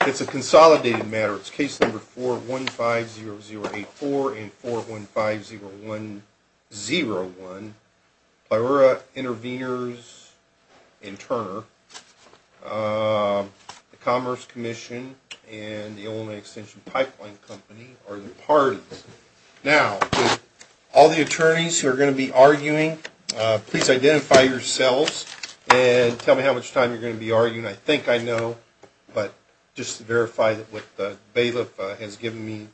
It's a consolidated matter. It's case number 4150084 and 4150101. Pliura Intervenors and Turner, the Commerce Commission and the Illinois Extension Pipeline Company are the parties. Now, with all the attorneys who are going to be arguing, please identify yourselves and tell me how much time you're going to be arguing. I think I know, but just to verify what the bailiff has given me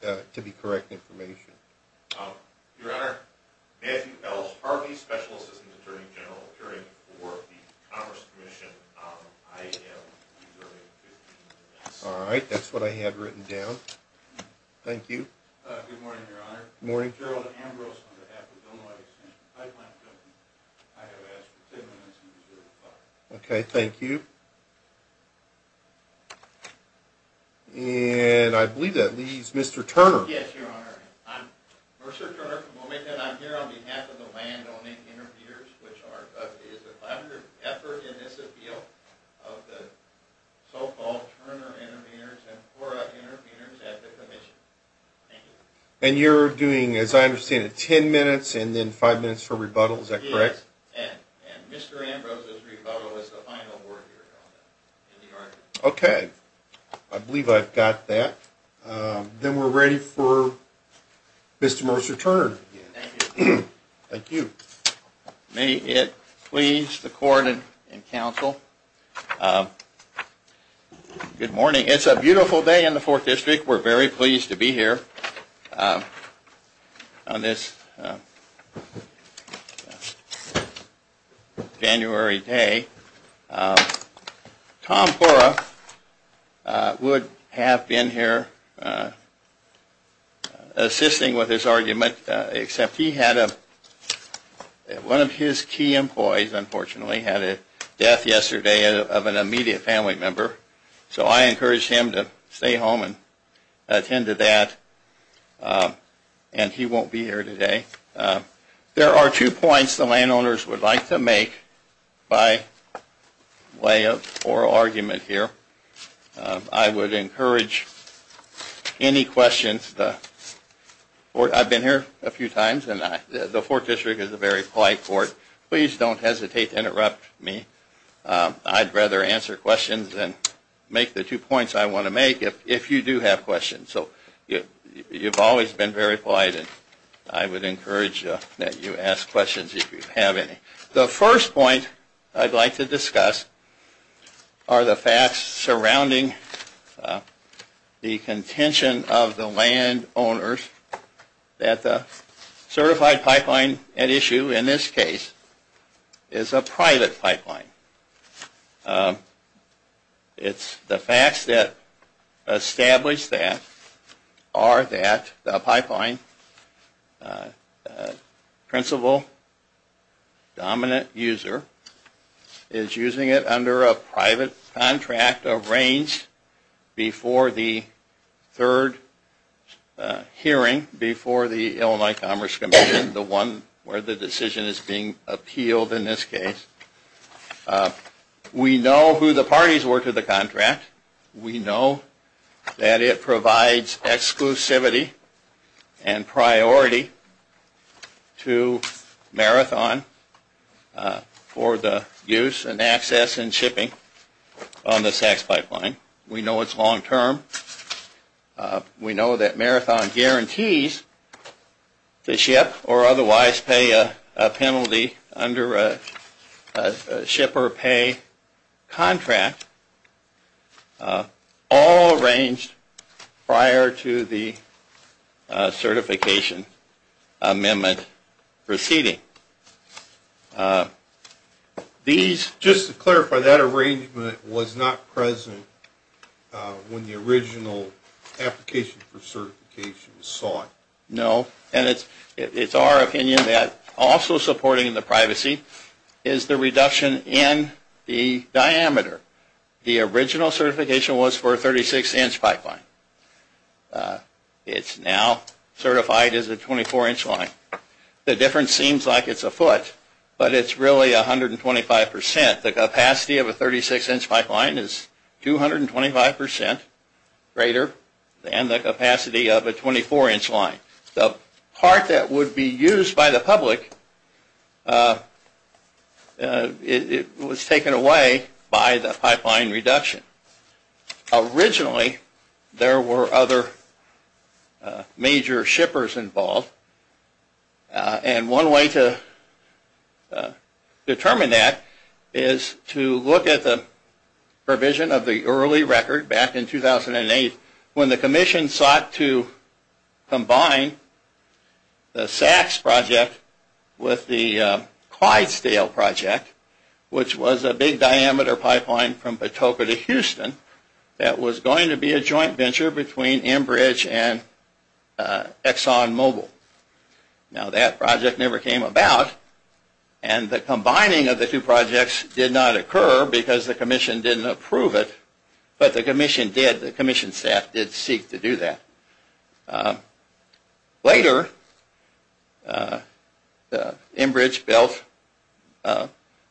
to be correct information. Your Honor, Matthew Ellis Harvey, Special Assistant Attorney General, appearing before the Commerce Commission. I am using 15 minutes. All right, that's what I had written down. Thank you. Good morning, Your Honor. Good morning. Gerald Ambrose on behalf of the Illinois Extension Pipeline Company. I have asked for 10 minutes and you deserve five. Okay, thank you. And I believe that leaves Mr. Turner. Yes, Your Honor. I'm Mercer Turner from Wilmington. I'm here on behalf of the landowning intervenors, which is a collaborative effort in this appeal of the so-called Turner Intervenors and Pliura Intervenors at the Commission. Thank you. And you're doing, as I understand it, 10 minutes and then five minutes for rebuttal. Is that correct? Yes, and Mr. Ambrose's rebuttal is the final word, Your Honor. Okay, I believe I've got that. Then we're ready for Mr. Mercer Turner. Thank you. Thank you. May it please the court and counsel, good morning. It's a beautiful day in the Fourth District. We're very pleased to be here on this January day. Tom Pliura would have been here assisting with this argument, except he had one of his key employees, unfortunately, had a death yesterday of an immediate family member. So I encouraged him to stay home and attend to that, and he won't be here today. There are two points the landowners would like to make by way of oral argument here. I would encourage any questions. I've been here a few times, and the Fourth District is a very polite court. Please don't hesitate to interrupt me. I'd rather answer questions than make the two points I want to make if you do have questions. So you've always been very polite, and I would encourage that you ask questions if you have any. The first point I'd like to discuss are the facts surrounding the contention of the landowners that the certified pipeline at issue in this case is a private pipeline. The facts that establish that are that the pipeline principal dominant user is using it under a private contract arranged before the third hearing before the Illinois Commerce Commission, the one where the decision is being appealed in this case. We know who the parties were to the contract. We know that it provides exclusivity and priority to Marathon for the use and access and shipping on the SACS pipeline. We know it's long term. We know that Marathon guarantees to ship or otherwise pay a penalty under a ship or pay contract all arranged prior to the certification amendment proceeding. Just to clarify, that arrangement was not present when the original application for certification was sought? No, and it's our opinion that also supporting the privacy is the reduction in the diameter. The original certification was for a 36-inch pipeline. It's now certified as a 24-inch line. The difference seems like it's a foot, but it's really 125%. The capacity of a 36-inch pipeline is 225% greater than the capacity of a 24-inch line. The part that would be used by the public was taken away by the pipeline reduction. Originally, there were other major shippers involved. One way to determine that is to look at the provision of the early record back in 2008 when the commission sought to combine the SACS project with the Clydesdale project, which was a big diameter pipeline from Patoka to Houston that was going to be a joint venture between Enbridge and ExxonMobil. Now, that project never came about, and the combining of the two projects did not occur because the commission didn't approve it, but the commission staff did seek to do that. Later, Enbridge built a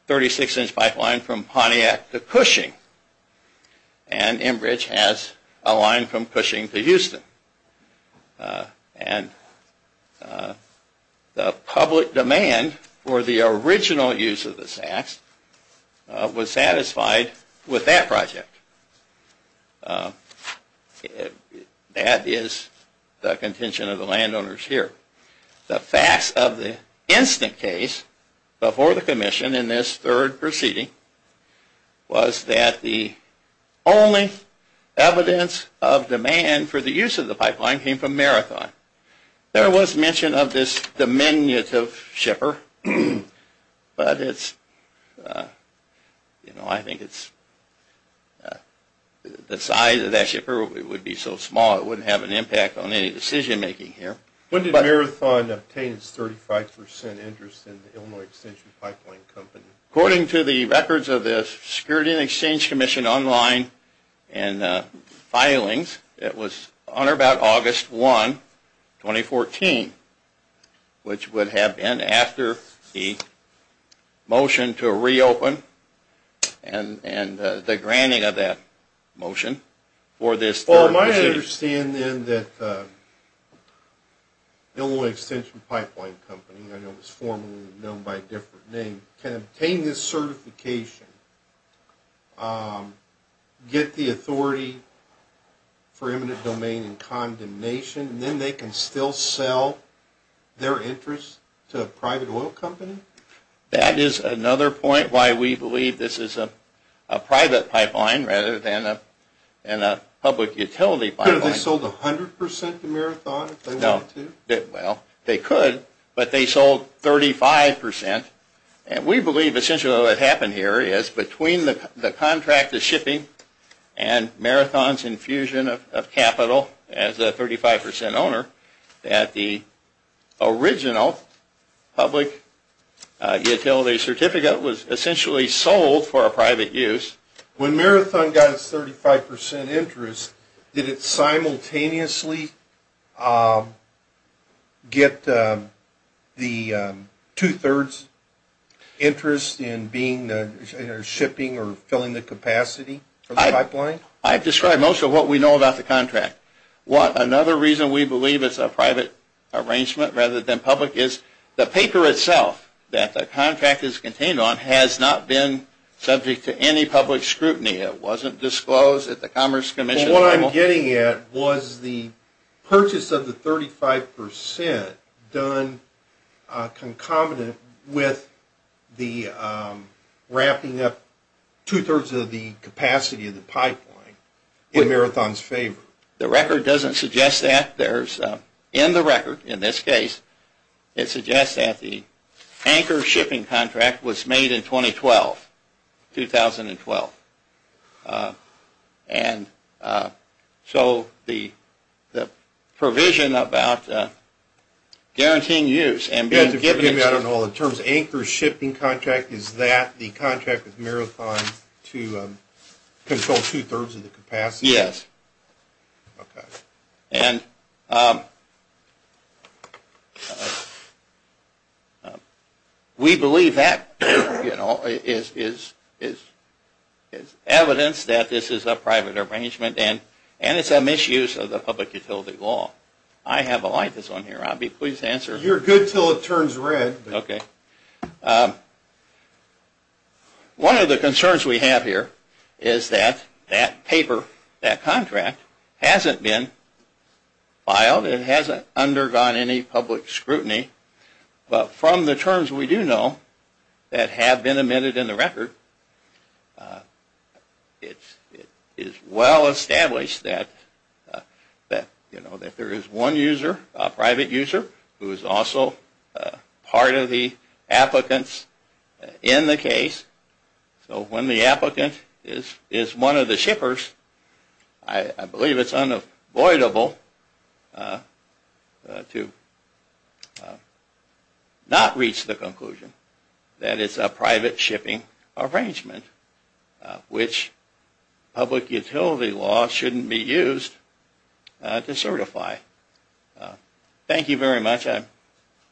36-inch pipeline from Pontiac to Cushing, and Enbridge has a line from Cushing to Houston. And the public demand for the original use of the SACS was satisfied with that project. That is the contention of the landowners here. The facts of the instant case before the commission in this third proceeding was that the only evidence of demand for the use of the pipeline came from Marathon. There was mention of this diminutive shipper, but I think the size of that shipper would be so small it wouldn't have an impact on any decision-making here. When did Marathon obtain its 35% interest in the Illinois Extension Pipeline Company? According to the records of the Security and Exchange Commission online and filings, it was on or about August 1, 2014, which would have been after the motion to reopen and the granting of that motion for this third proceeding. Well, my understanding then that the Illinois Extension Pipeline Company, I know it was formerly known by a different name, can obtain this certification, get the authority for eminent domain and condemnation, and then they can still sell their interest to a private oil company? That is another point why we believe this is a private pipeline rather than a public utility pipeline. Could they have sold 100% to Marathon if they wanted to? Well, they could, but they sold 35%. We believe essentially what happened here is between the contract of shipping and Marathon's infusion of capital as a 35% owner, that the original public utility certificate was essentially sold for a private use. When Marathon got its 35% interest, did it simultaneously get the two-thirds interest in shipping or filling the capacity for the pipeline? I've described most of what we know about the contract. Another reason we believe it's a private arrangement rather than public is the paper itself that the contract is contained on has not been subject to any public scrutiny. It wasn't disclosed at the Commerce Commission. What I'm getting at was the purchase of the 35% done concomitant with the wrapping up two-thirds of the capacity of the pipeline in Marathon's favor. The record doesn't suggest that. In the record, in this case, it suggests that the anchor shipping contract was made in 2012. So the provision about guaranteeing use and being given... In terms of anchor shipping contract, is that the contract with Marathon to control two-thirds of the capacity? Yes. Okay. And we believe that is evidence that this is a private arrangement and it's a misuse of the public utility law. I have a light that's on here. I'll be pleased to answer. You're good until it turns red. Okay. One of the concerns we have here is that that paper, that contract, hasn't been filed. It hasn't undergone any public scrutiny. But from the terms we do know that have been amended in the record, it is well established that there is one user, a private user, who is also part of the applicants in the case. So when the applicant is one of the shippers, I believe it's unavoidable to not reach the conclusion that it's a private shipping arrangement, which public utility law shouldn't be used to certify. Thank you very much. I'm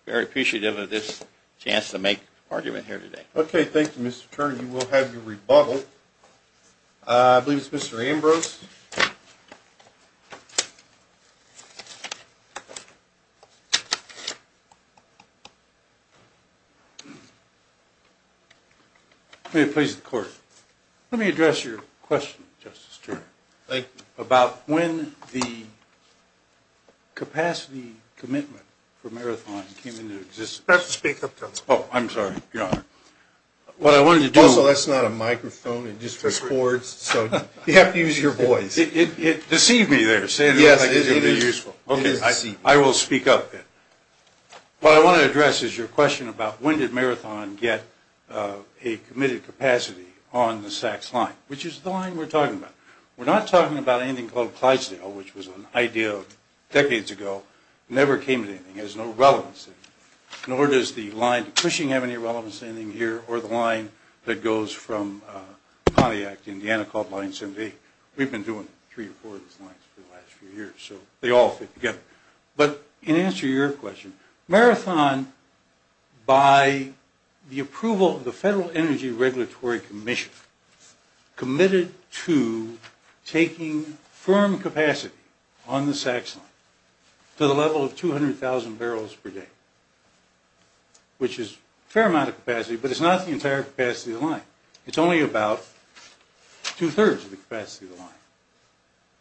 very appreciative of this chance to make an argument here today. Okay. Thank you, Mr. Turner. You will have your rebuttal. I believe it's Mr. Ambrose. May it please the Court. Let me address your question, Justice Turner. Thank you. It's about when the capacity commitment for Marathon came into existence. Speak up, Justice. Oh, I'm sorry, Your Honor. Also, that's not a microphone. It just records. So you have to use your voice. It deceived me there. Yes, it is. Okay. I will speak up then. What I want to address is your question about when did Marathon get a committed capacity on the SACS line, which is the line we're talking about. We're not talking about anything called Clydesdale, which was an idea decades ago. It never came to anything. It has no relevance. Nor does the line to Cushing have any relevance to anything here, or the line that goes from Pontiac to Indiana called Line 78. We've been doing three or four of these lines for the last few years, so they all fit together. But in answer to your question, Marathon, by the approval of the Federal Energy Regulatory Commission, committed to taking firm capacity on the SACS line to the level of 200,000 barrels per day, which is a fair amount of capacity, but it's not the entire capacity of the line. It's only about two-thirds of the capacity of the line.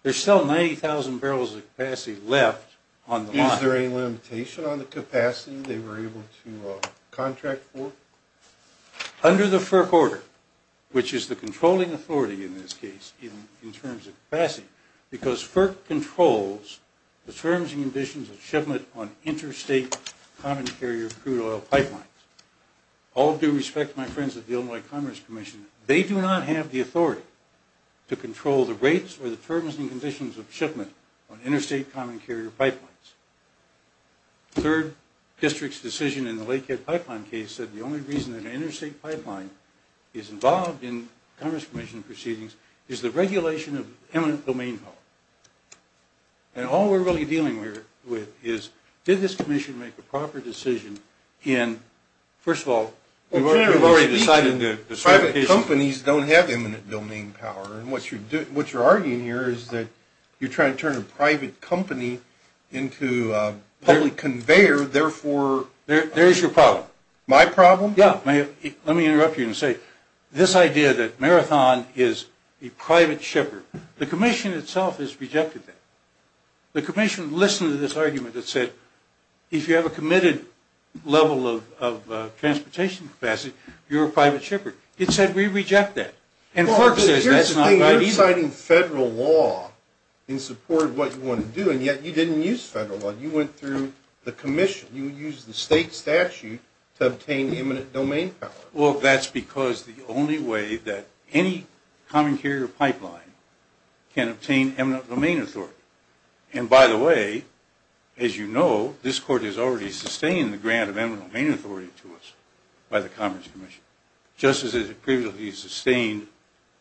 There's still 90,000 barrels of capacity left on the line. Is there any limitation on the capacity they were able to contract for? Under the FERC order, which is the controlling authority in this case, even in terms of capacity, because FERC controls the terms and conditions of shipment on interstate common carrier crude oil pipelines. All due respect, my friends at the Illinois Commerce Commission, they do not have the authority to control the rates or the terms and conditions of shipment on interstate common carrier pipelines. The third district's decision in the Lakehead pipeline case said the only reason that an interstate pipeline is involved in Commerce Commission proceedings is the regulation of eminent domain power. And all we're really dealing with is, did this commission make a proper decision in, first of all, we've already decided that private companies don't have eminent domain power. What you're arguing here is that you're trying to turn a private company into a public conveyor, therefore... There is your problem. My problem? Yeah. Let me interrupt you and say, this idea that Marathon is a private shipper, the commission itself has rejected that. The commission listened to this argument that said, if you have a committed level of transportation capacity, you're a private shipper. It said we reject that. Here's the thing. You're citing federal law in support of what you want to do, and yet you didn't use federal law. You went through the commission. You used the state statute to obtain eminent domain power. Well, that's because the only way that any common carrier pipeline can obtain eminent domain authority, and by the way, as you know, this court has already sustained the grant of eminent domain authority to us by the Commerce Commission, just as it previously sustained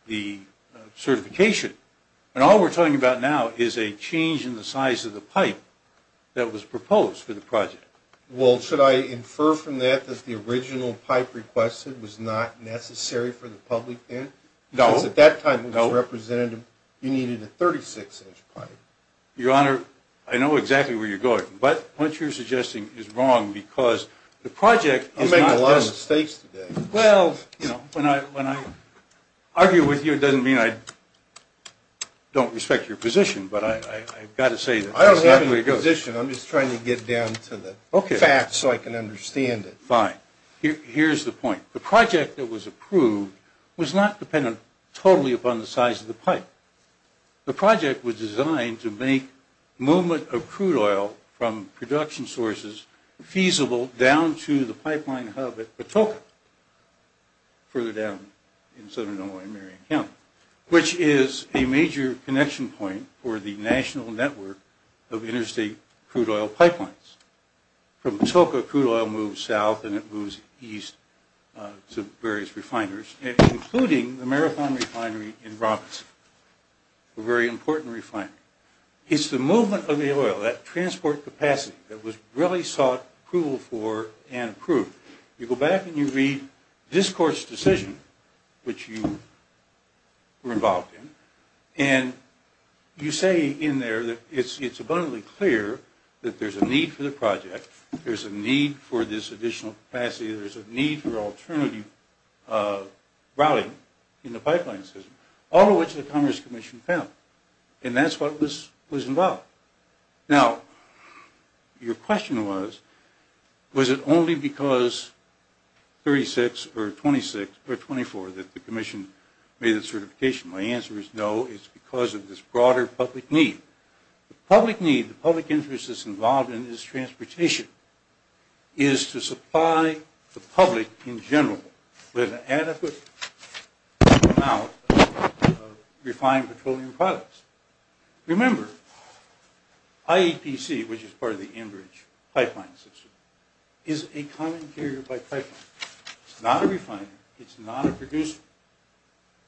the certification, and all we're talking about now is a change in the size of the pipe that was proposed for the project. Well, should I infer from that that the original pipe requested was not necessary for the public then? No. Because at that time it was represented you needed a 36-inch pipe. Your Honor, I know exactly where you're going, but what you're suggesting is wrong because the project is not... I'm making a lot of mistakes today. Well, you know, when I argue with you, it doesn't mean I don't respect your position, but I've got to say that that's not the way it goes. I don't have a position. I'm just trying to get down to the facts so I can understand it. Fine. Here's the point. The project that was approved was not dependent totally upon the size of the pipe. The project was designed to make movement of crude oil from production sources feasible down to the pipeline hub at Patoka, further down in southern Illinois in Marion County, which is a major connection point for the national network of interstate crude oil pipelines. From Patoka, crude oil moves south and it moves east to various refiners, including the marathon refinery in Robinson, a very important refinery. It's the movement of the oil, that transport capacity, that was really sought approval for and approved. You go back and you read this court's decision, which you were involved in, and you say in there that it's abundantly clear that there's a need for the project, there's a need for this additional capacity, there's a need for alternative routing in the pipeline system, all of which the Congress Commission found. And that's what was involved. Now, your question was, was it only because 36 or 26 or 24 that the commission made the certification? My answer is no. It's because of this broader public need. The public need, the public interest that's involved in this transportation is to supply the public in general with an adequate amount of refined petroleum products. Remember, IEPC, which is part of the Enbridge pipeline system, is a common carrier by pipeline. It's not a refiner, it's not a producer.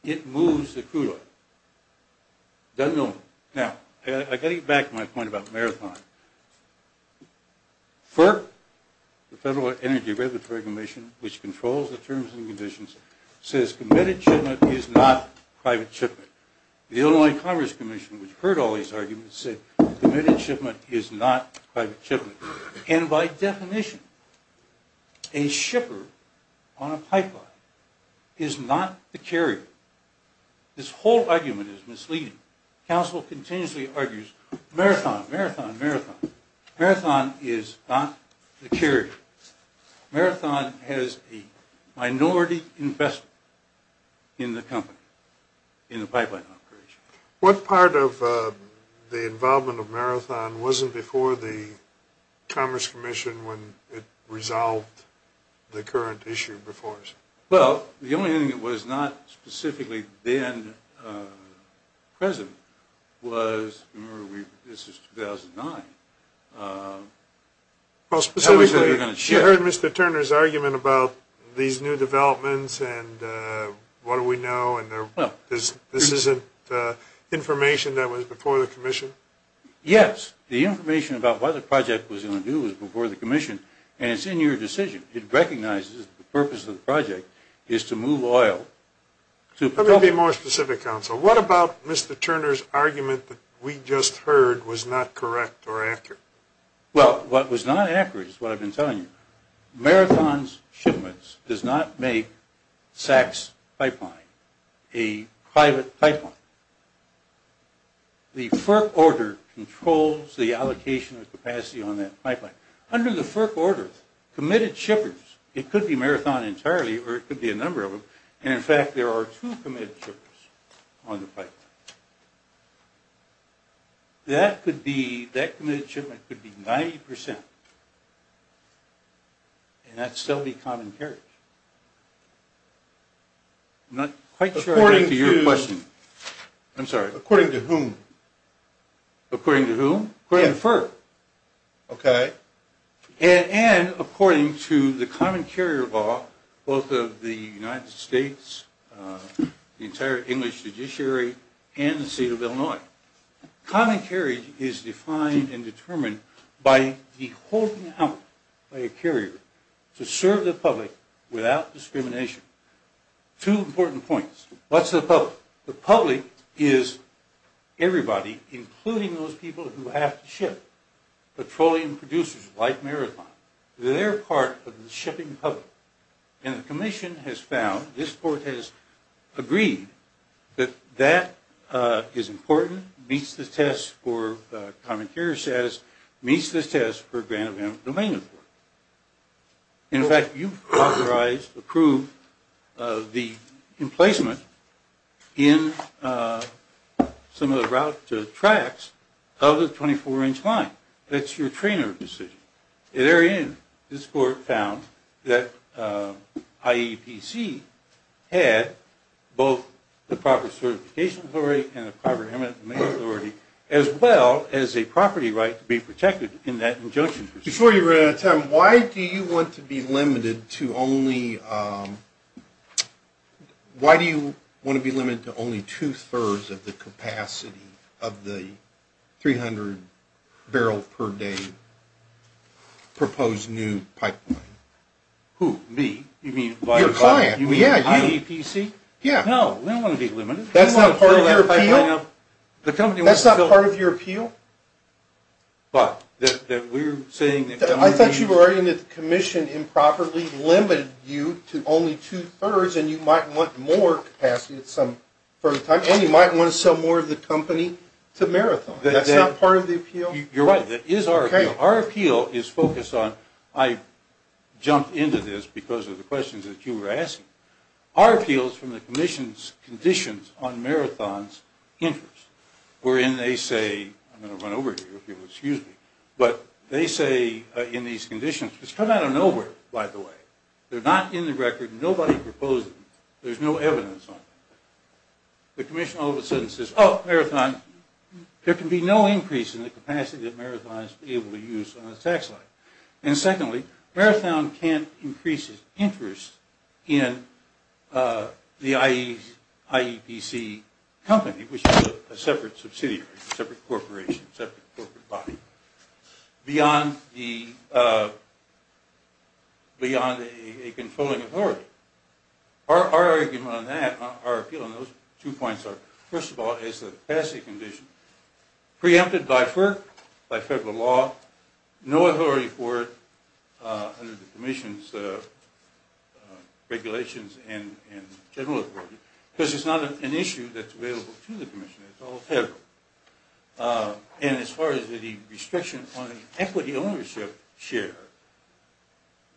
It moves the crude oil. Now, I've got to get back to my point about Marathon. FERC, the Federal Energy Regulatory Commission, which controls the terms and conditions, says committed shipment is not private shipment. The Illinois Commerce Commission, which heard all these arguments, said committed shipment is not private shipment. And by definition, a shipper on a pipeline is not the carrier. This whole argument is misleading. Council continuously argues Marathon, Marathon, Marathon. Marathon is not the carrier. Marathon has a minority investment in the company, in the pipeline operation. What part of the involvement of Marathon wasn't before the Commerce Commission when it resolved the current issue before us? Well, the only thing that was not specifically then present was, this is 2009. Specifically, you heard Mr. Turner's argument about these new developments and what do we know, and this isn't information that was before the Commission? Yes. The information about what the project was going to do was before the Commission, and it's in your decision. It recognizes the purpose of the project is to move oil. Let me be more specific, Council. What about Mr. Turner's argument that we just heard was not correct or accurate? Well, what was not accurate is what I've been telling you. Marathon's shipments does not make SAC's pipeline a private pipeline. The FERC order controls the allocation of capacity on that pipeline. Under the FERC order, committed shippers, it could be Marathon entirely or it could be a number of them, and in fact there are two committed shippers on the pipeline. That committed shipment could be 90%, and that's still the common carriage. I'm not quite sure I'm getting to your question. According to whom? According to whom? According to FERC. Okay. And according to the common carrier law, both of the United States, the entire English judiciary, and the state of Illinois, common carriage is defined and determined by the holding out by a carrier to serve the public without discrimination. Two important points. What's the public? Well, the public is everybody, including those people who have to ship. Petroleum producers like Marathon, they're part of the shipping public. And the commission has found, this court has agreed, that that is important, meets the test for common carrier status, meets the test for grand amount of domain import. In fact, you've authorized, approved the emplacement in some of the route tracks of the 24-inch line. That's your trainer position. At any rate, this court found that IEPC had both the proper certification authority and the proper eminent domain authority, as well as a property right to be protected in that injunction. Before you run out of time, why do you want to be limited to only two-thirds of the capacity of the 300 barrel per day proposed new pipeline? Who, me? Your client. You mean IEPC? Yeah, you. No, we don't want to be limited. That's not part of your appeal? That's not part of your appeal? I thought you were arguing that the commission improperly limited you to only two-thirds, and you might want more capacity for the time, and you might want to sell more of the company to Marathon. That's not part of the appeal? You're right. That is our appeal. Our appeal is focused on, I jumped into this because of the questions that you were asking. Our appeal is from the commission's conditions on Marathon's interest, wherein they say, I'm going to run over here if you'll excuse me, but they say in these conditions, it's come out of nowhere, by the way. They're not in the record. Nobody proposed them. There's no evidence on them. The commission all of a sudden says, oh, Marathon, there can be no increase in the capacity that Marathon is able to use on the tax line. And secondly, Marathon can't increase its interest in the IEPC company, which is a separate subsidiary, separate corporation, separate corporate body, beyond a controlling authority. Our argument on that, our appeal on those two points are, first of all, preempted by FERC, by federal law, no authority for it under the commission's regulations and general authority, because it's not an issue that's available to the commission. It's all federal. And as far as the restriction on the equity ownership share,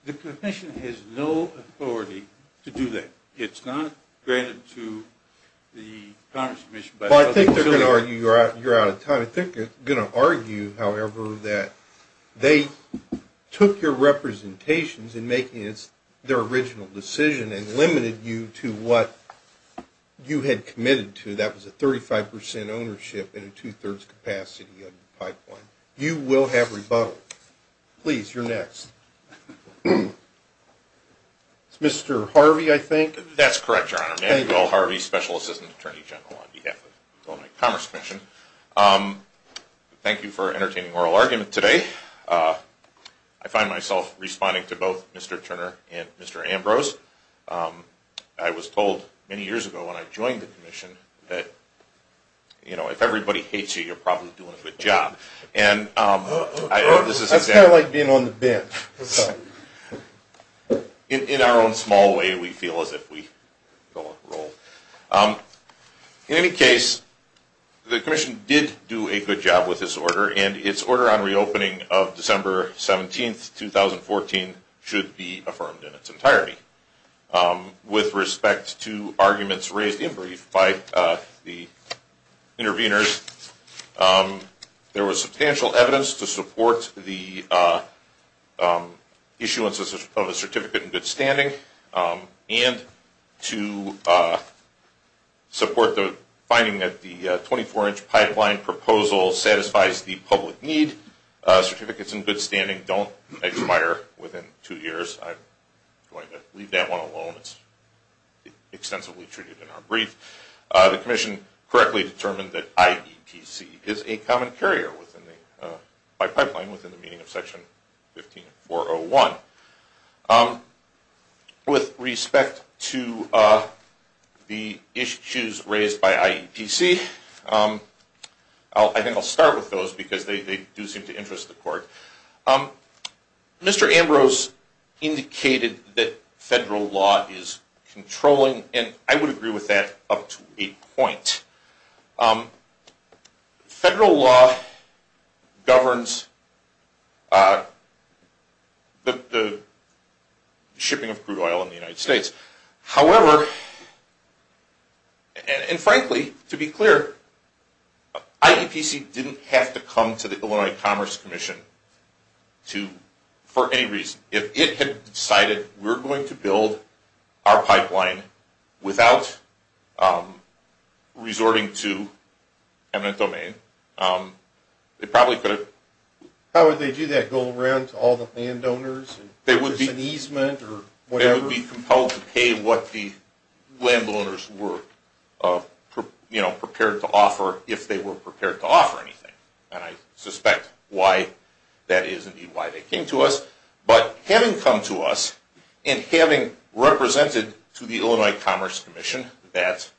the commission has no authority to do that. It's not granted to the Congress commission. Well, I think they're going to argue you're out of time. I think they're going to argue, however, that they took your representations in making their original decision and limited you to what you had committed to. That was a 35 percent ownership and a two-thirds capacity of the pipeline. You will have rebuttals. Please, you're next. It's Mr. Harvey, I think. That's correct, Your Honor. Manuel Harvey, Special Assistant Attorney General on behalf of the Illinois Commerce Commission. Thank you for entertaining oral argument today. I find myself responding to both Mr. Turner and Mr. Ambrose. I was told many years ago when I joined the commission that, you know, if everybody hates you, you're probably doing a good job. That's kind of like being on the bench. In our own small way, we feel as if we don't roll. In any case, the commission did do a good job with this order, and its order on reopening of December 17, 2014 should be affirmed in its entirety. With respect to arguments raised in brief by the interveners, there was substantial evidence to support the issuance of a certificate in good standing and to support the finding that the 24-inch pipeline proposal satisfies the public need. Certificates in good standing don't expire within two years. I'm going to leave that one alone. It's extensively treated in our brief. The commission correctly determined that IEPC is a common carrier by pipeline within the meaning of Section 15401. With respect to the issues raised by IEPC, I think I'll start with those because they do seem to interest the court. Mr. Ambrose indicated that federal law is controlling, and I would agree with that up to a point. Federal law governs the shipping of crude oil in the United States. However, and frankly, to be clear, IEPC didn't have to come to the Illinois Commerce Commission for any reason. If it had decided we're going to build our pipeline without resorting to eminent domain, it probably could have. How would they do that? Go around to all the landowners and there's an easement or whatever? They would be compelled to pay what the landowners were prepared to offer if they were prepared to offer anything. And I suspect that is indeed why they came to us. But having come to us and having represented to the Illinois Commerce Commission that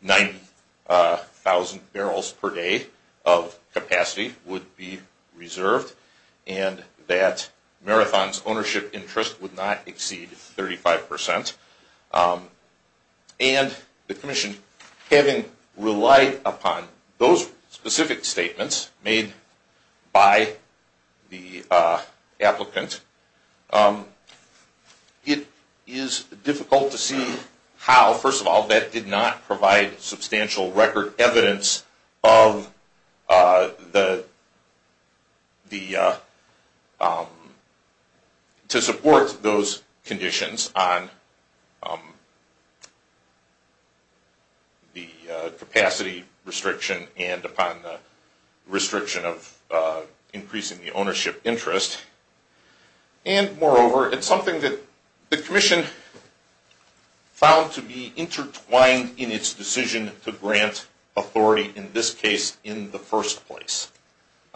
90,000 barrels per day of capacity would be reserved and that Marathon's ownership interest would not exceed 35 percent, and the commission having relied upon those specific statements made by the applicant, it is difficult to see how. First of all, that did not provide substantial record evidence to support those conditions on the capacity restriction and upon the restriction of increasing the ownership interest. And moreover, it's something that the commission found to be intertwined in its decision to grant authority, in this case, in the first place.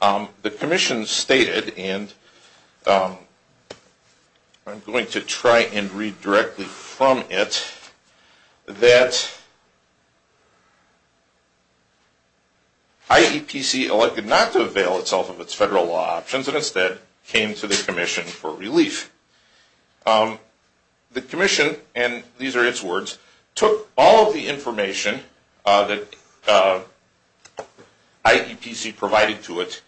The commission stated, and I'm going to try and read directly from it, that IEPC elected not to avail itself of its federal law options and instead came to the commission for relief. The commission, and these are its words, took all of the information that IEPC provided to it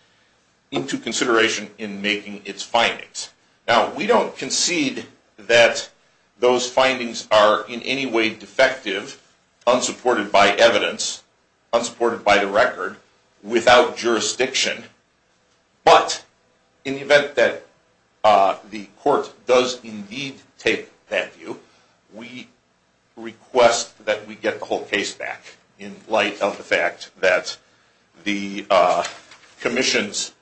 into consideration in making its findings. Now, we don't concede that those findings are in any way defective, unsupported by evidence, unsupported by the record, without jurisdiction. But, in the event that the court does indeed take that view, we request that we get the whole case back, in light of the fact that the commission's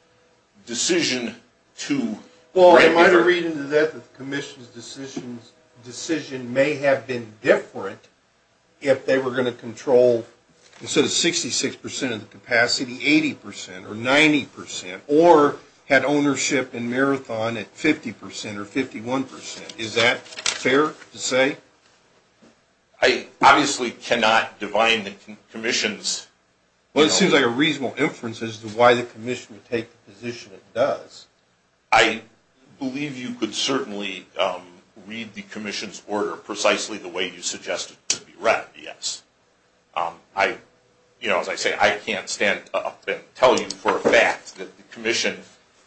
decision to grant authority… Well, I might read into that that the commission's decision may have been different if they were going to control, instead of 66 percent of the capacity, 80 percent or 90 percent, or had ownership and marathon at 50 percent or 51 percent. Is that fair to say? I obviously cannot divine the commission's… Well, it seems like a reasonable inference as to why the commission would take the position it does. I believe you could certainly read the commission's order precisely the way you suggested it could be read, yes. As I say, I can't stand up and tell you for a fact that the commission,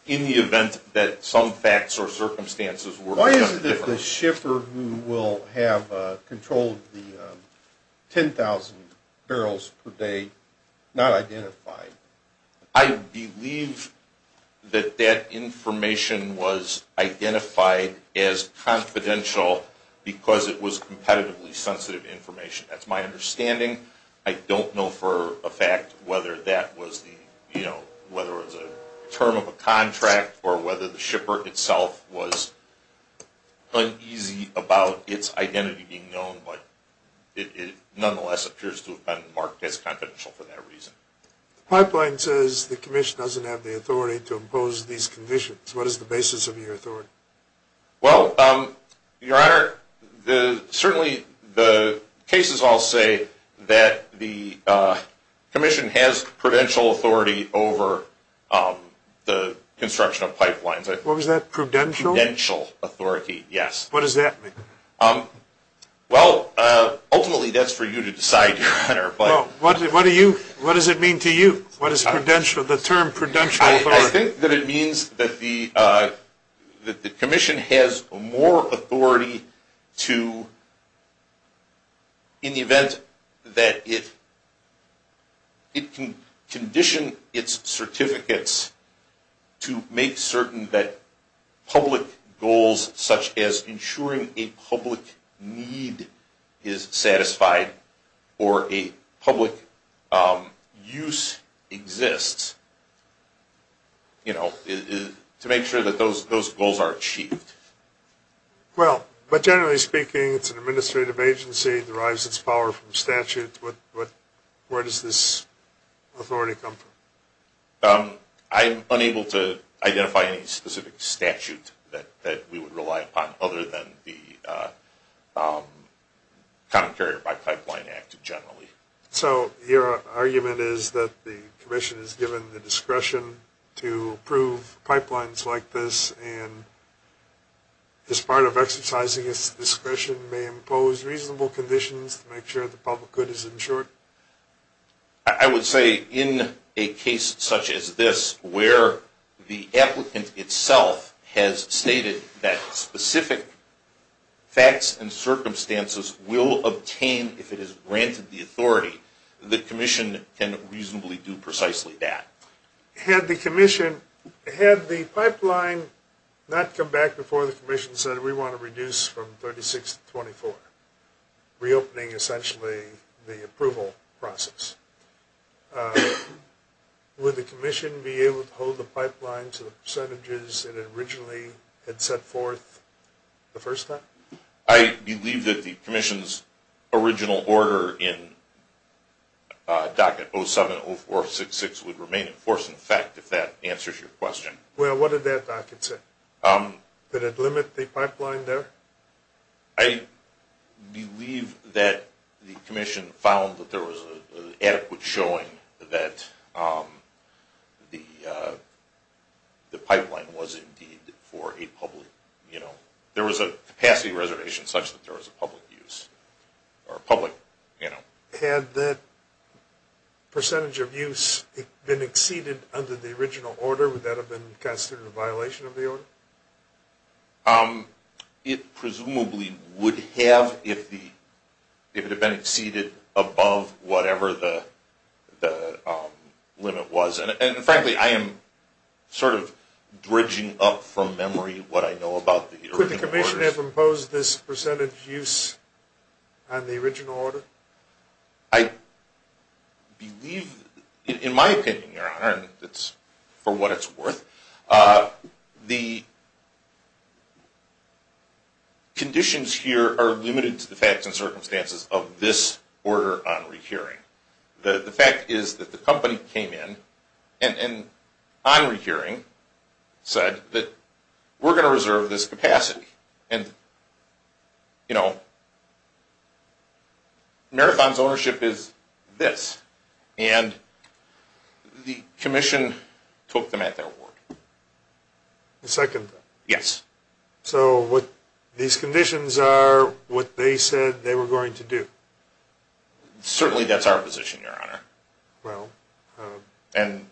in the event that some facts or circumstances were done differently… Why is it that the shipper who will have control of the 10,000 barrels per day, not identified? I believe that that information was identified as confidential because it was competitively sensitive information. That's my understanding. I don't know for a fact whether that was the, you know, whether it was a term of a contract, or whether the shipper itself was uneasy about its identity being known, but it nonetheless appears to have been marked as confidential for that reason. The pipeline says the commission doesn't have the authority to impose these conditions. What is the basis of your authority? Well, Your Honor, certainly the cases all say that the commission has prudential authority over the construction of pipelines. What was that, prudential? Prudential authority, yes. What does that mean? Well, ultimately that's for you to decide, Your Honor. Well, what does it mean to you? What is prudential, the term prudential authority? I think that it means that the commission has more authority to, in the event that it can condition its certificates to make certain that public goals, such as ensuring a public need is satisfied or a public use exists, you know, to make sure that those goals are achieved. Well, but generally speaking, it's an administrative agency. It derives its power from statute. Where does this authority come from? I'm unable to identify any specific statute that we would rely upon other than the Common Carrier by Pipeline Act generally. So your argument is that the commission is given the discretion to approve pipelines like this and as part of exercising its discretion may impose reasonable conditions to make sure the public good is ensured? I would say in a case such as this where the applicant itself has stated that specific facts and circumstances will obtain, if it is granted the authority, the commission can reasonably do precisely that. Had the pipeline not come back before the commission said we want to reduce from 36 to 24, reopening essentially the approval process, would the commission be able to hold the pipeline to the percentages that it originally had set forth the first time? I believe that the commission's original order in docket 070466 would remain in force, in fact, if that answers your question. Well, what did that docket say? Did it limit the pipeline there? I believe that the commission found that there was an adequate showing that the pipeline was indeed for a public, you know, there was a capacity reservation such that there was a public use. Had that percentage of use been exceeded under the original order? Would that have been considered a violation of the order? It presumably would have if it had been exceeded above whatever the limit was. And frankly, I am sort of bridging up from memory what I know about the original order. Could the commission have imposed this percentage use on the original order? I believe, in my opinion, Your Honor, for what it's worth, the conditions here are limited to the facts and circumstances of this order on rehearing. The fact is that the company came in and on rehearing said that we're going to reserve this capacity. And, you know, Marathon's ownership is this. And the commission took them at their word. The second time? Yes. So what these conditions are, what they said they were going to do? Certainly that's our position, Your Honor. Well. And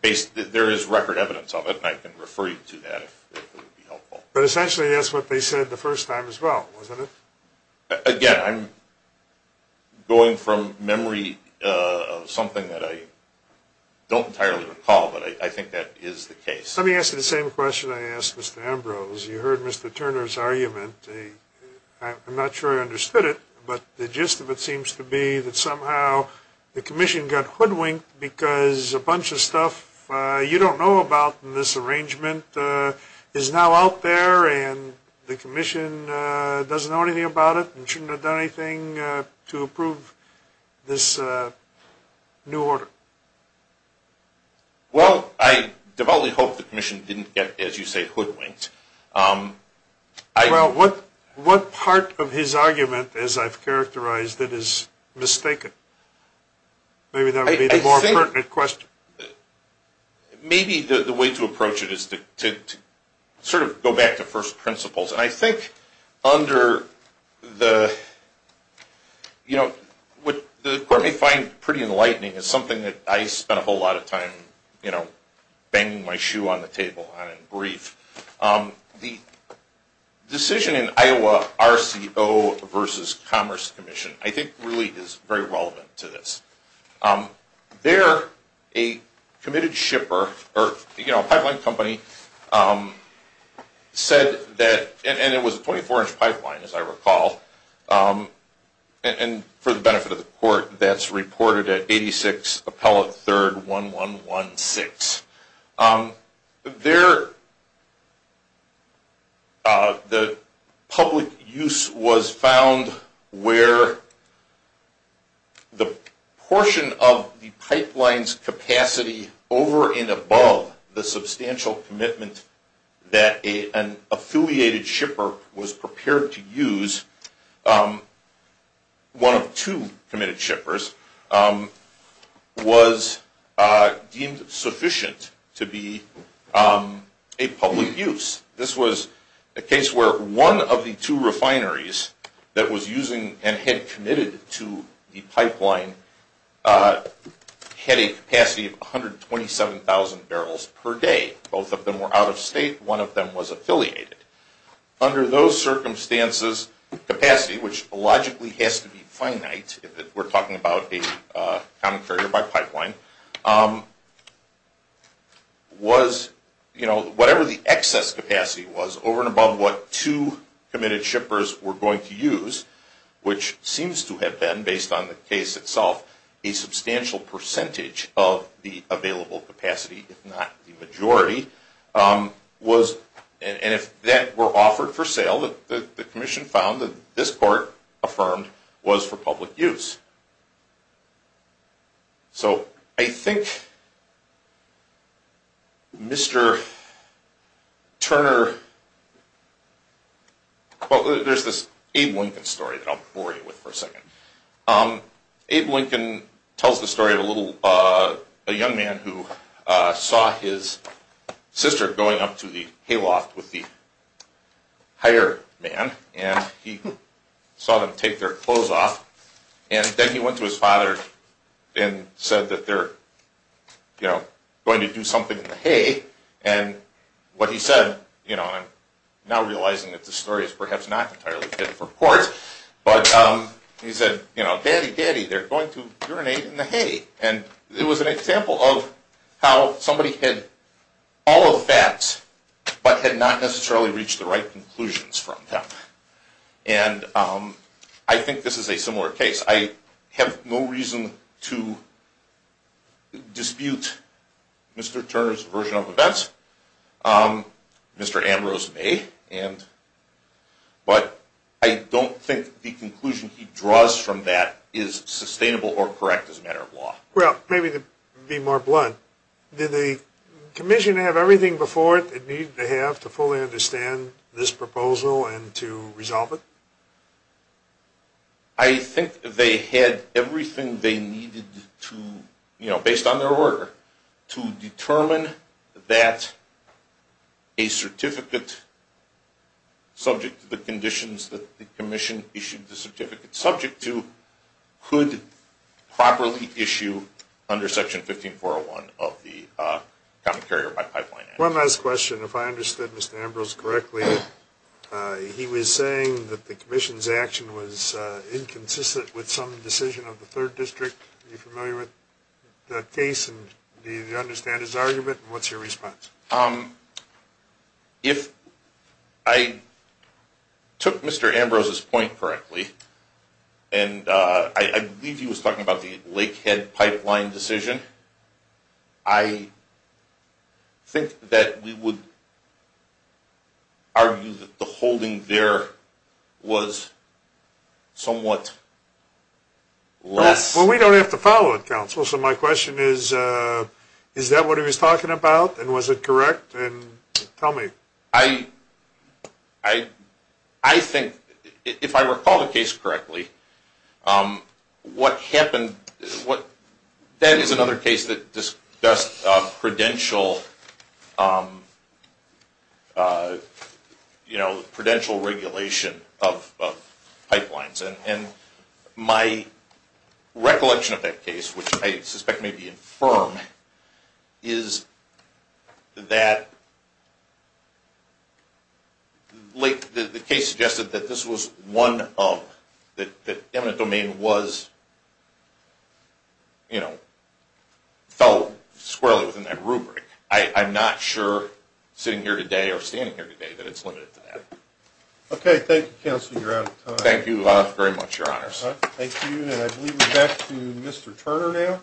there is record evidence of it, and I can refer you to that if it would be helpful. But essentially that's what they said the first time as well, wasn't it? Again, I'm going from memory of something that I don't entirely recall, but I think that is the case. Let me ask you the same question I asked Mr. Ambrose. As you heard Mr. Turner's argument, I'm not sure I understood it, but the gist of it seems to be that somehow the commission got hoodwinked because a bunch of stuff you don't know about in this arrangement is now out there and the commission doesn't know anything about it and shouldn't have done anything to approve this new order. Well, I devoutly hope the commission didn't get, as you say, hoodwinked. Well, what part of his argument, as I've characterized it, is mistaken? Maybe that would be the more pertinent question. Maybe the way to approach it is to sort of go back to first principles. And I think under the, you know, what the court may find pretty enlightening is something that I spent a whole lot of time, you know, banging my shoe on the table on in brief. The decision in Iowa RCO versus Commerce Commission I think really is very relevant to this. There, a committed shipper or, you know, pipeline company said that, and it was a 24-inch pipeline as I recall, and for the benefit of the court, that's reported at 86 Appellate 3rd 1116. There, the public use was found where the portion of the pipeline's capacity over and above the substantial commitment that an affiliated shipper was prepared to use, one of two committed shippers, was deemed sufficient to be a public use. This was a case where one of the two refineries that was using and had committed to the pipeline had a capacity of 127,000 barrels per day. Both of them were out of state. One of them was affiliated. Under those circumstances, capacity, which logically has to be finite if we're talking about a common carrier by pipeline, was, you know, whatever the excess capacity was over and above what two committed shippers were going to use, which seems to have been, based on the case itself, a substantial percentage of the available capacity, if not the majority, was, and if that were offered for sale, the commission found that this court affirmed was for public use. So I think Mr. Turner, well there's this Abe Lincoln story that I'll bore you with for a second. Abe Lincoln tells the story of a little, a young man who saw his sister going up to the hayloft with the higher man and he saw them take their clothes off and then he went to his father and said that they're, you know, going to do something in the hay and what he said, you know, I'm now realizing that this story is perhaps not entirely fit for court, but he said, you know, daddy, daddy, they're going to urinate in the hay. And it was an example of how somebody had all of the facts, but had not necessarily reached the right conclusions from them. And I think this is a similar case. I have no reason to dispute Mr. Turner's version of events, Mr. Ambrose may, but I don't think the conclusion he draws from that is sustainable or correct as a matter of law. Well, maybe to be more blunt, did the commission have everything before it that it needed to have to fully understand this proposal and to resolve it? I think they had everything they needed to, you know, based on their order, to determine that a certificate, subject to the conditions that the commission issued the certificate subject to, could properly issue under Section 15401 of the Common Carrier by Pipeline Act. One last question. If I understood Mr. Ambrose correctly, he was saying that the commission's action was inconsistent with some decision of the 3rd District. Are you familiar with that case and do you understand his argument and what's your response? If I took Mr. Ambrose's point correctly, and I believe he was talking about the Lakehead Pipeline decision, I think that we would argue that the holding there was somewhat less... Well, we don't have to follow it, Counsel, so my question is, is that what he was talking about and was it correct? Tell me. I think, if I recall the case correctly, that is another case that discussed prudential regulation of pipelines. And my recollection of that case, which I suspect may be infirm, is that the case suggested that this was one of... that eminent domain was, you know, fell squarely within that rubric. I'm not sure, sitting here today or standing here today, that it's limited to that. Okay, thank you, Counsel. You're out of time. Thank you very much, Your Honors. Thank you, and I believe we're back to Mr. Turner now.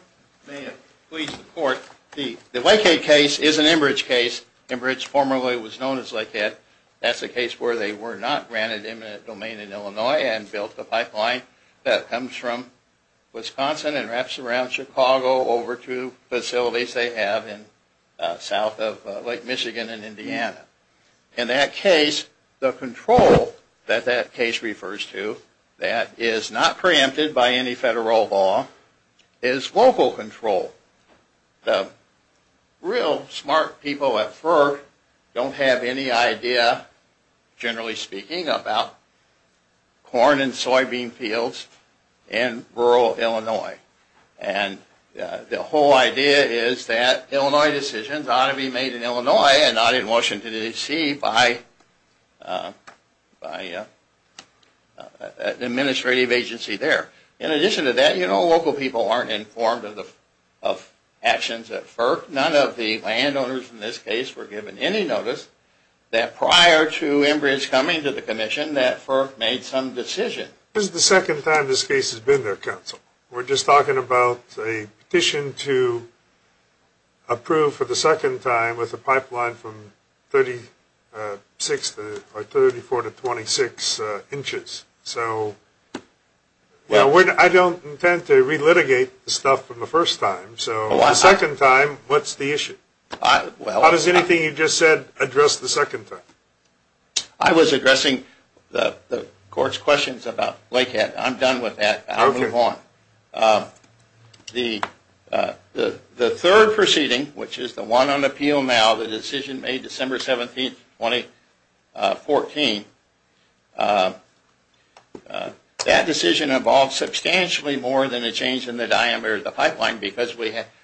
May it please the Court, the Lakehead case is an Enbridge case. Enbridge formerly was known as Lakehead. That's a case where they were not granted eminent domain in Illinois and built a pipeline that comes from Wisconsin and wraps around Chicago over to facilities they have south of Lake Michigan and Indiana. In that case, the control that that case refers to, that is not preempted by any federal law, is local control. The real smart people at FERC don't have any idea, generally speaking, about corn and soybean fields in rural Illinois. And the whole idea is that Illinois decisions ought to be made in Illinois and not in Washington, D.C. by an administrative agency there. In addition to that, you know, local people aren't informed of actions at FERC. None of the landowners in this case were given any notice that prior to Enbridge coming to the Commission that FERC made some decisions. This is the second time this case has been there, Counsel. We're just talking about a petition to approve for the second time with a pipeline from 34 to 26 inches. So I don't intend to relitigate the stuff from the first time. So the second time, what's the issue? How does anything you just said address the second time? I was addressing the Court's questions about Lakehead. I'm done with that. I'll move on. The third proceeding, which is the one on appeal now, the decision made December 17, 2014, that decision involved substantially more than a change in the diameter of the pipeline because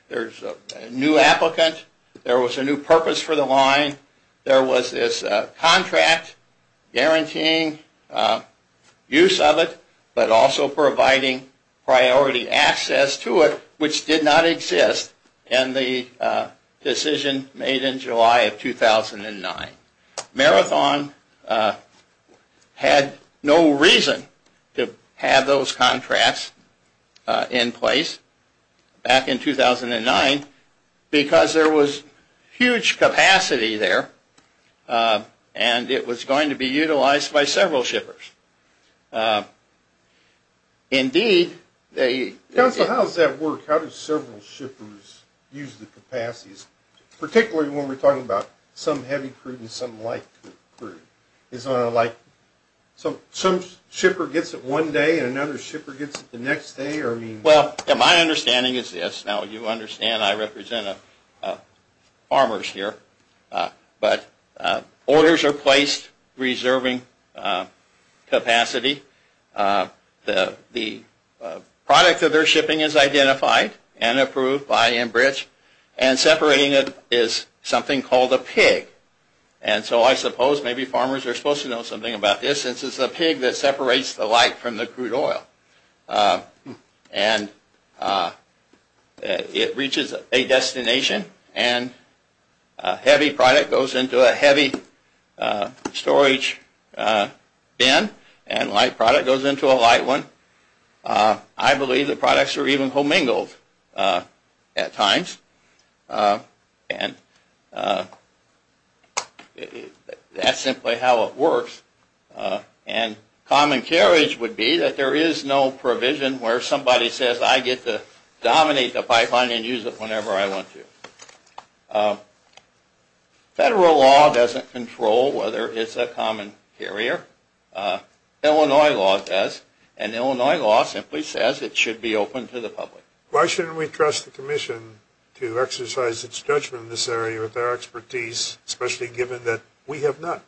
there's a new applicant, there was a new purpose for the line, there was this contract guaranteeing use of it, but also providing priority access to it, which did not exist in the decision made in July of 2009. Marathon had no reason to have those contracts in place back in 2009 because there was huge capacity there and it was going to be utilized by several shippers. Counsel, how does that work? Particularly when we're talking about some heavy crude and some light crude. Some shipper gets it one day and another shipper gets it the next day? Well, my understanding is this. Now, you understand I represent farmers here, but orders are placed reserving capacity. The product of their shipping is identified and approved by Enbridge and separating it is something called a pig. And so I suppose maybe farmers are supposed to know something about this since it's a pig that separates the light from the crude oil. And it reaches a destination and heavy product goes into a heavy storage bin and light product goes into a light one. I believe the products are even commingled at times and that's simply how it works. And common carriage would be that there is no provision where somebody says I get to dominate the pipeline and use it whenever I want to. Federal law doesn't control whether it's a common carrier. Illinois law does. And Illinois law simply says it should be open to the public. Why shouldn't we trust the commission to exercise its judgment in this area with our expertise, especially given that we have not?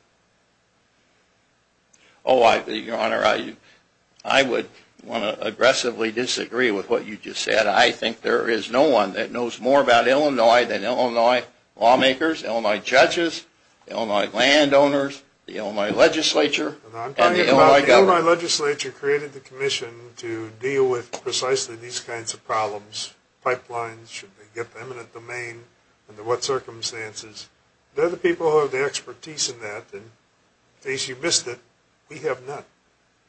Oh, your honor, I would want to aggressively disagree with what you just said. I think there is no one that knows more about Illinois than Illinois lawmakers, Illinois judges, Illinois landowners, the Illinois legislature, and the Illinois government. I'm talking about the Illinois legislature created the commission to deal with precisely these kinds of problems. Pipelines, should they get eminent domain, under what circumstances. They're the people who have the expertise in that. In case you missed it, we have not.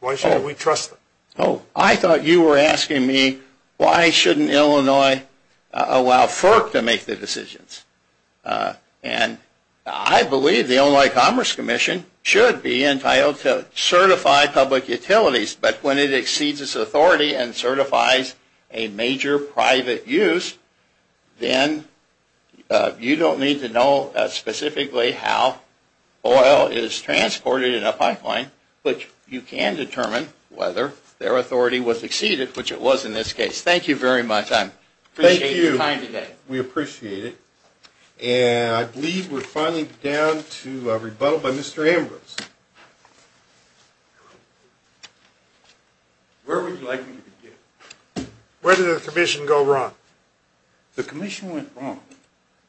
Why shouldn't we trust them? Oh, I thought you were asking me why shouldn't Illinois allow FERC to make the decisions. And I believe the Illinois Commerce Commission should be entitled to certify public utilities. But when it exceeds its authority and certifies a major private use, then you don't need to know specifically how oil is transported in a pipeline, but you can determine whether their authority was exceeded, which it was in this case. Thank you very much. I appreciate your time today. Thank you. We appreciate it. And I believe we're finally down to a rebuttal by Mr. Ambrose. Where would you like me to begin? Where did the commission go wrong? The commission went wrong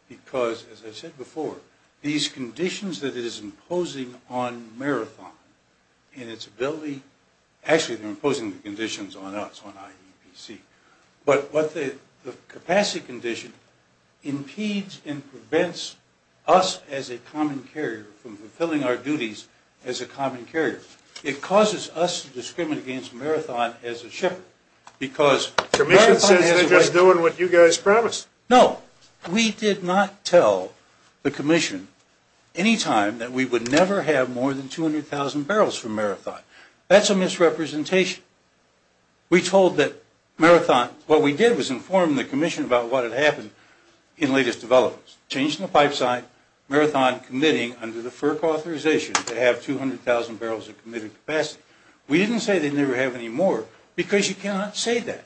because, as I said before, these conditions that it is imposing on Marathon and its ability, actually, they're imposing the conditions on us, on IEPC. But what the capacity condition impedes and prevents us as a common carrier from fulfilling our duties as a common carrier. It causes us to discriminate against Marathon as a shipper because Marathon has a way… The commission says they're just doing what you guys promised. No, we did not tell the commission any time that we would never have more than 200,000 barrels from Marathon. That's a misrepresentation. We told that Marathon… What we did was inform the commission about what had happened in latest developments. Change in the pipe site, Marathon committing under the FERC authorization to have 200,000 barrels of committed capacity. We didn't say they'd never have any more because you cannot say that.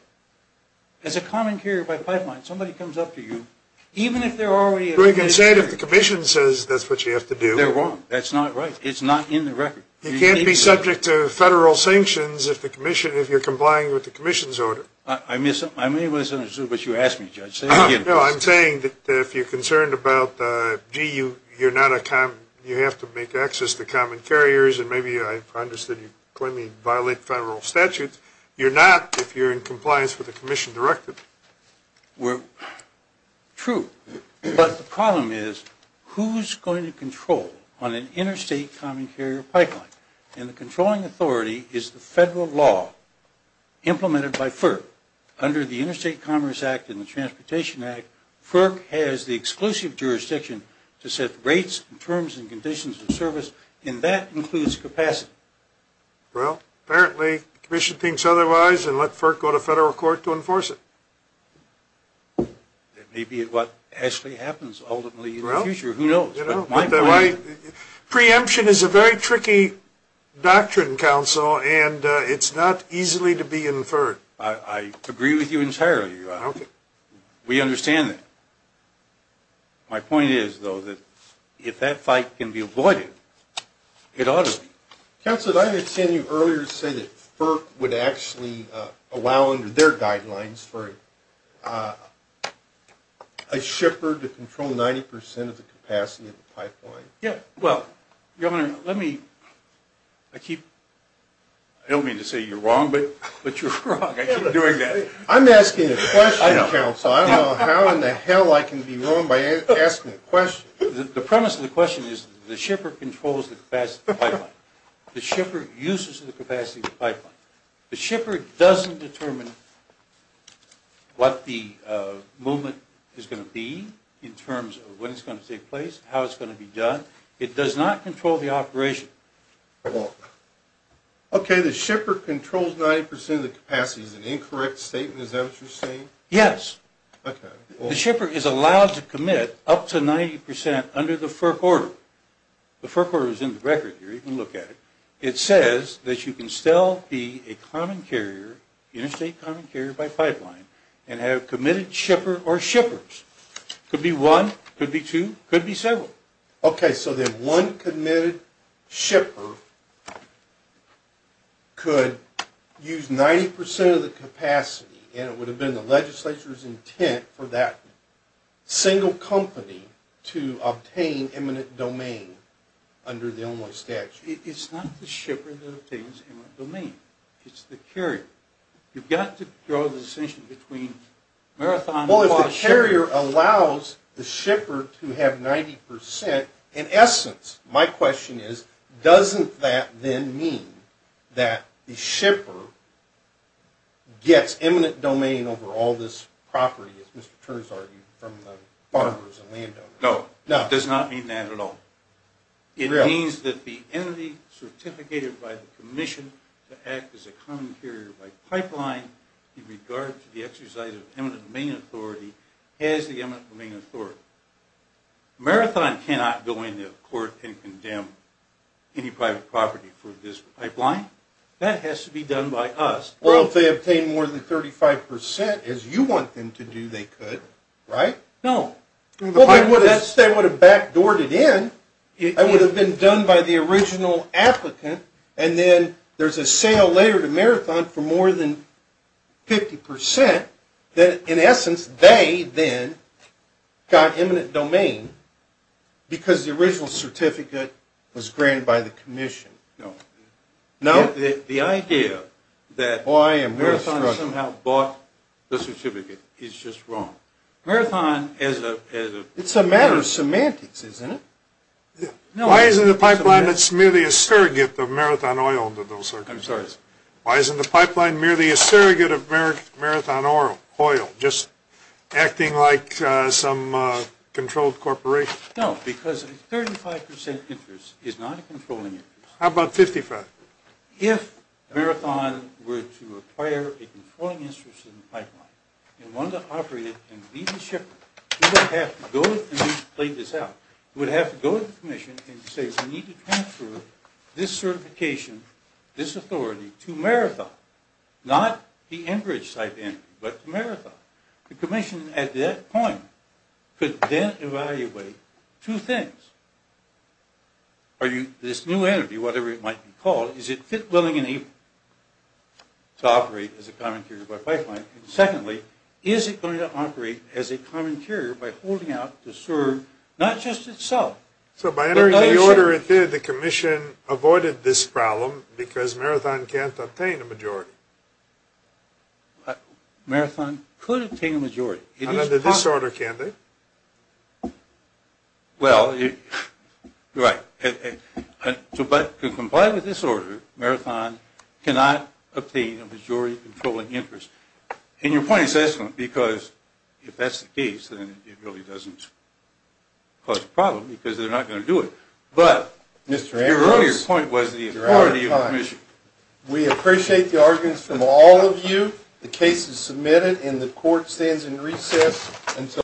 As a common carrier by pipeline, somebody comes up to you, even if they're already… We can say that the commission says that's what you have to do. They're wrong. That's not right. It's not in the record. You can't be subject to federal sanctions if you're complying with the commission's order. I may have misunderstood what you asked me, Judge. No, I'm saying that if you're concerned about, gee, you have to make access to common carriers, and maybe I've understood you claim you violate federal statutes. You're not if you're in compliance with the commission directive. True, but the problem is who's going to control on an interstate common carrier pipeline? And the controlling authority is the federal law implemented by FERC. Under the Interstate Commerce Act and the Transportation Act, FERC has the exclusive jurisdiction to set rates and terms and conditions of service, and that includes capacity. Well, apparently the commission thinks otherwise and let FERC go to federal court to enforce it. That may be what actually happens ultimately in the future. Who knows? Preemption is a very tricky doctrine, counsel, and it's not easily to be inferred. I agree with you entirely. We understand that. My point is, though, that if that fight can be avoided, it ought to be. Counsel, did I understand you earlier to say that FERC would actually allow, under their guidelines, for a shipper to control 90 percent of the capacity of the pipeline? Yeah, well, Governor, let me – I keep – I don't mean to say you're wrong, but you're wrong. I keep doing that. I'm asking a question, counsel. I don't know how in the hell I can be wrong by asking a question. The premise of the question is the shipper controls the capacity of the pipeline. The shipper uses the capacity of the pipeline. The shipper doesn't determine what the movement is going to be in terms of when it's going to take place, how it's going to be done. It does not control the operation. Okay, the shipper controls 90 percent of the capacity. Is that an incorrect statement? Is that what you're saying? Yes. Okay. The shipper is allowed to commit up to 90 percent under the FERC order. The FERC order is in the record here. You can look at it. It says that you can still be a common carrier, interstate common carrier, by pipeline and have committed shipper or shippers. Could be one, could be two, could be several. Okay, so then one committed shipper could use 90 percent of the capacity, and it would have been the legislature's intent for that single company to obtain eminent domain under the Illinois statute. It's not the shipper that obtains eminent domain. It's the carrier. You've got to draw the distinction between marathons and shippers. The carrier allows the shipper to have 90 percent. In essence, my question is, doesn't that then mean that the shipper gets eminent domain over all this property, as Mr. Turns argued, from the farmers and landowners? No, it does not mean that at all. It means that the entity certificated by the commission to act as a common carrier by pipeline in regard to the exercise of eminent domain authority has the eminent domain authority. Marathon cannot go into court and condemn any private property for this pipeline. That has to be done by us. Well, if they obtain more than 35 percent, as you want them to do, they could, right? No. They would have backdoored it in. It would have been done by the original applicant, and then there's a sale later to Marathon for more than 50 percent, that in essence they then got eminent domain because the original certificate was granted by the commission. No. No? The idea that Marathon somehow bought the certificate is just wrong. Marathon, as a... It's a matter of semantics, isn't it? Why isn't the pipeline merely a surrogate of Marathon Oil under those circumstances? I'm sorry? Why isn't the pipeline merely a surrogate of Marathon Oil, just acting like some controlled corporation? No, because a 35 percent interest is not a controlling interest. How about 55? If Marathon were to acquire a controlling interest in the pipeline, and wanted to operate it and lead the shipment, we would have to go to the commission, and we've played this out, we would have to go to the commission and say, we need to transfer this certification, this authority, to Marathon. Not the Enbridge type entity, but to Marathon. The commission at that point could then evaluate two things. Are you, this new entity, whatever it might be called, is it fit, willing, and able to operate as a commentary by pipeline? And secondly, is it going to operate as a commentary by holding out to serve not just itself... So by entering the order it did, the commission avoided this problem, because Marathon can't obtain a majority. Marathon could obtain a majority. Under this order, can they? Well, right. To comply with this order, Marathon cannot obtain a majority controlling interest. And your point is excellent, because if that's the case, then it really doesn't cause a problem, because they're not going to do it. But your earlier point was the authority of the commission. We appreciate the arguments from all of you. The case is submitted, and the court stands in recess until...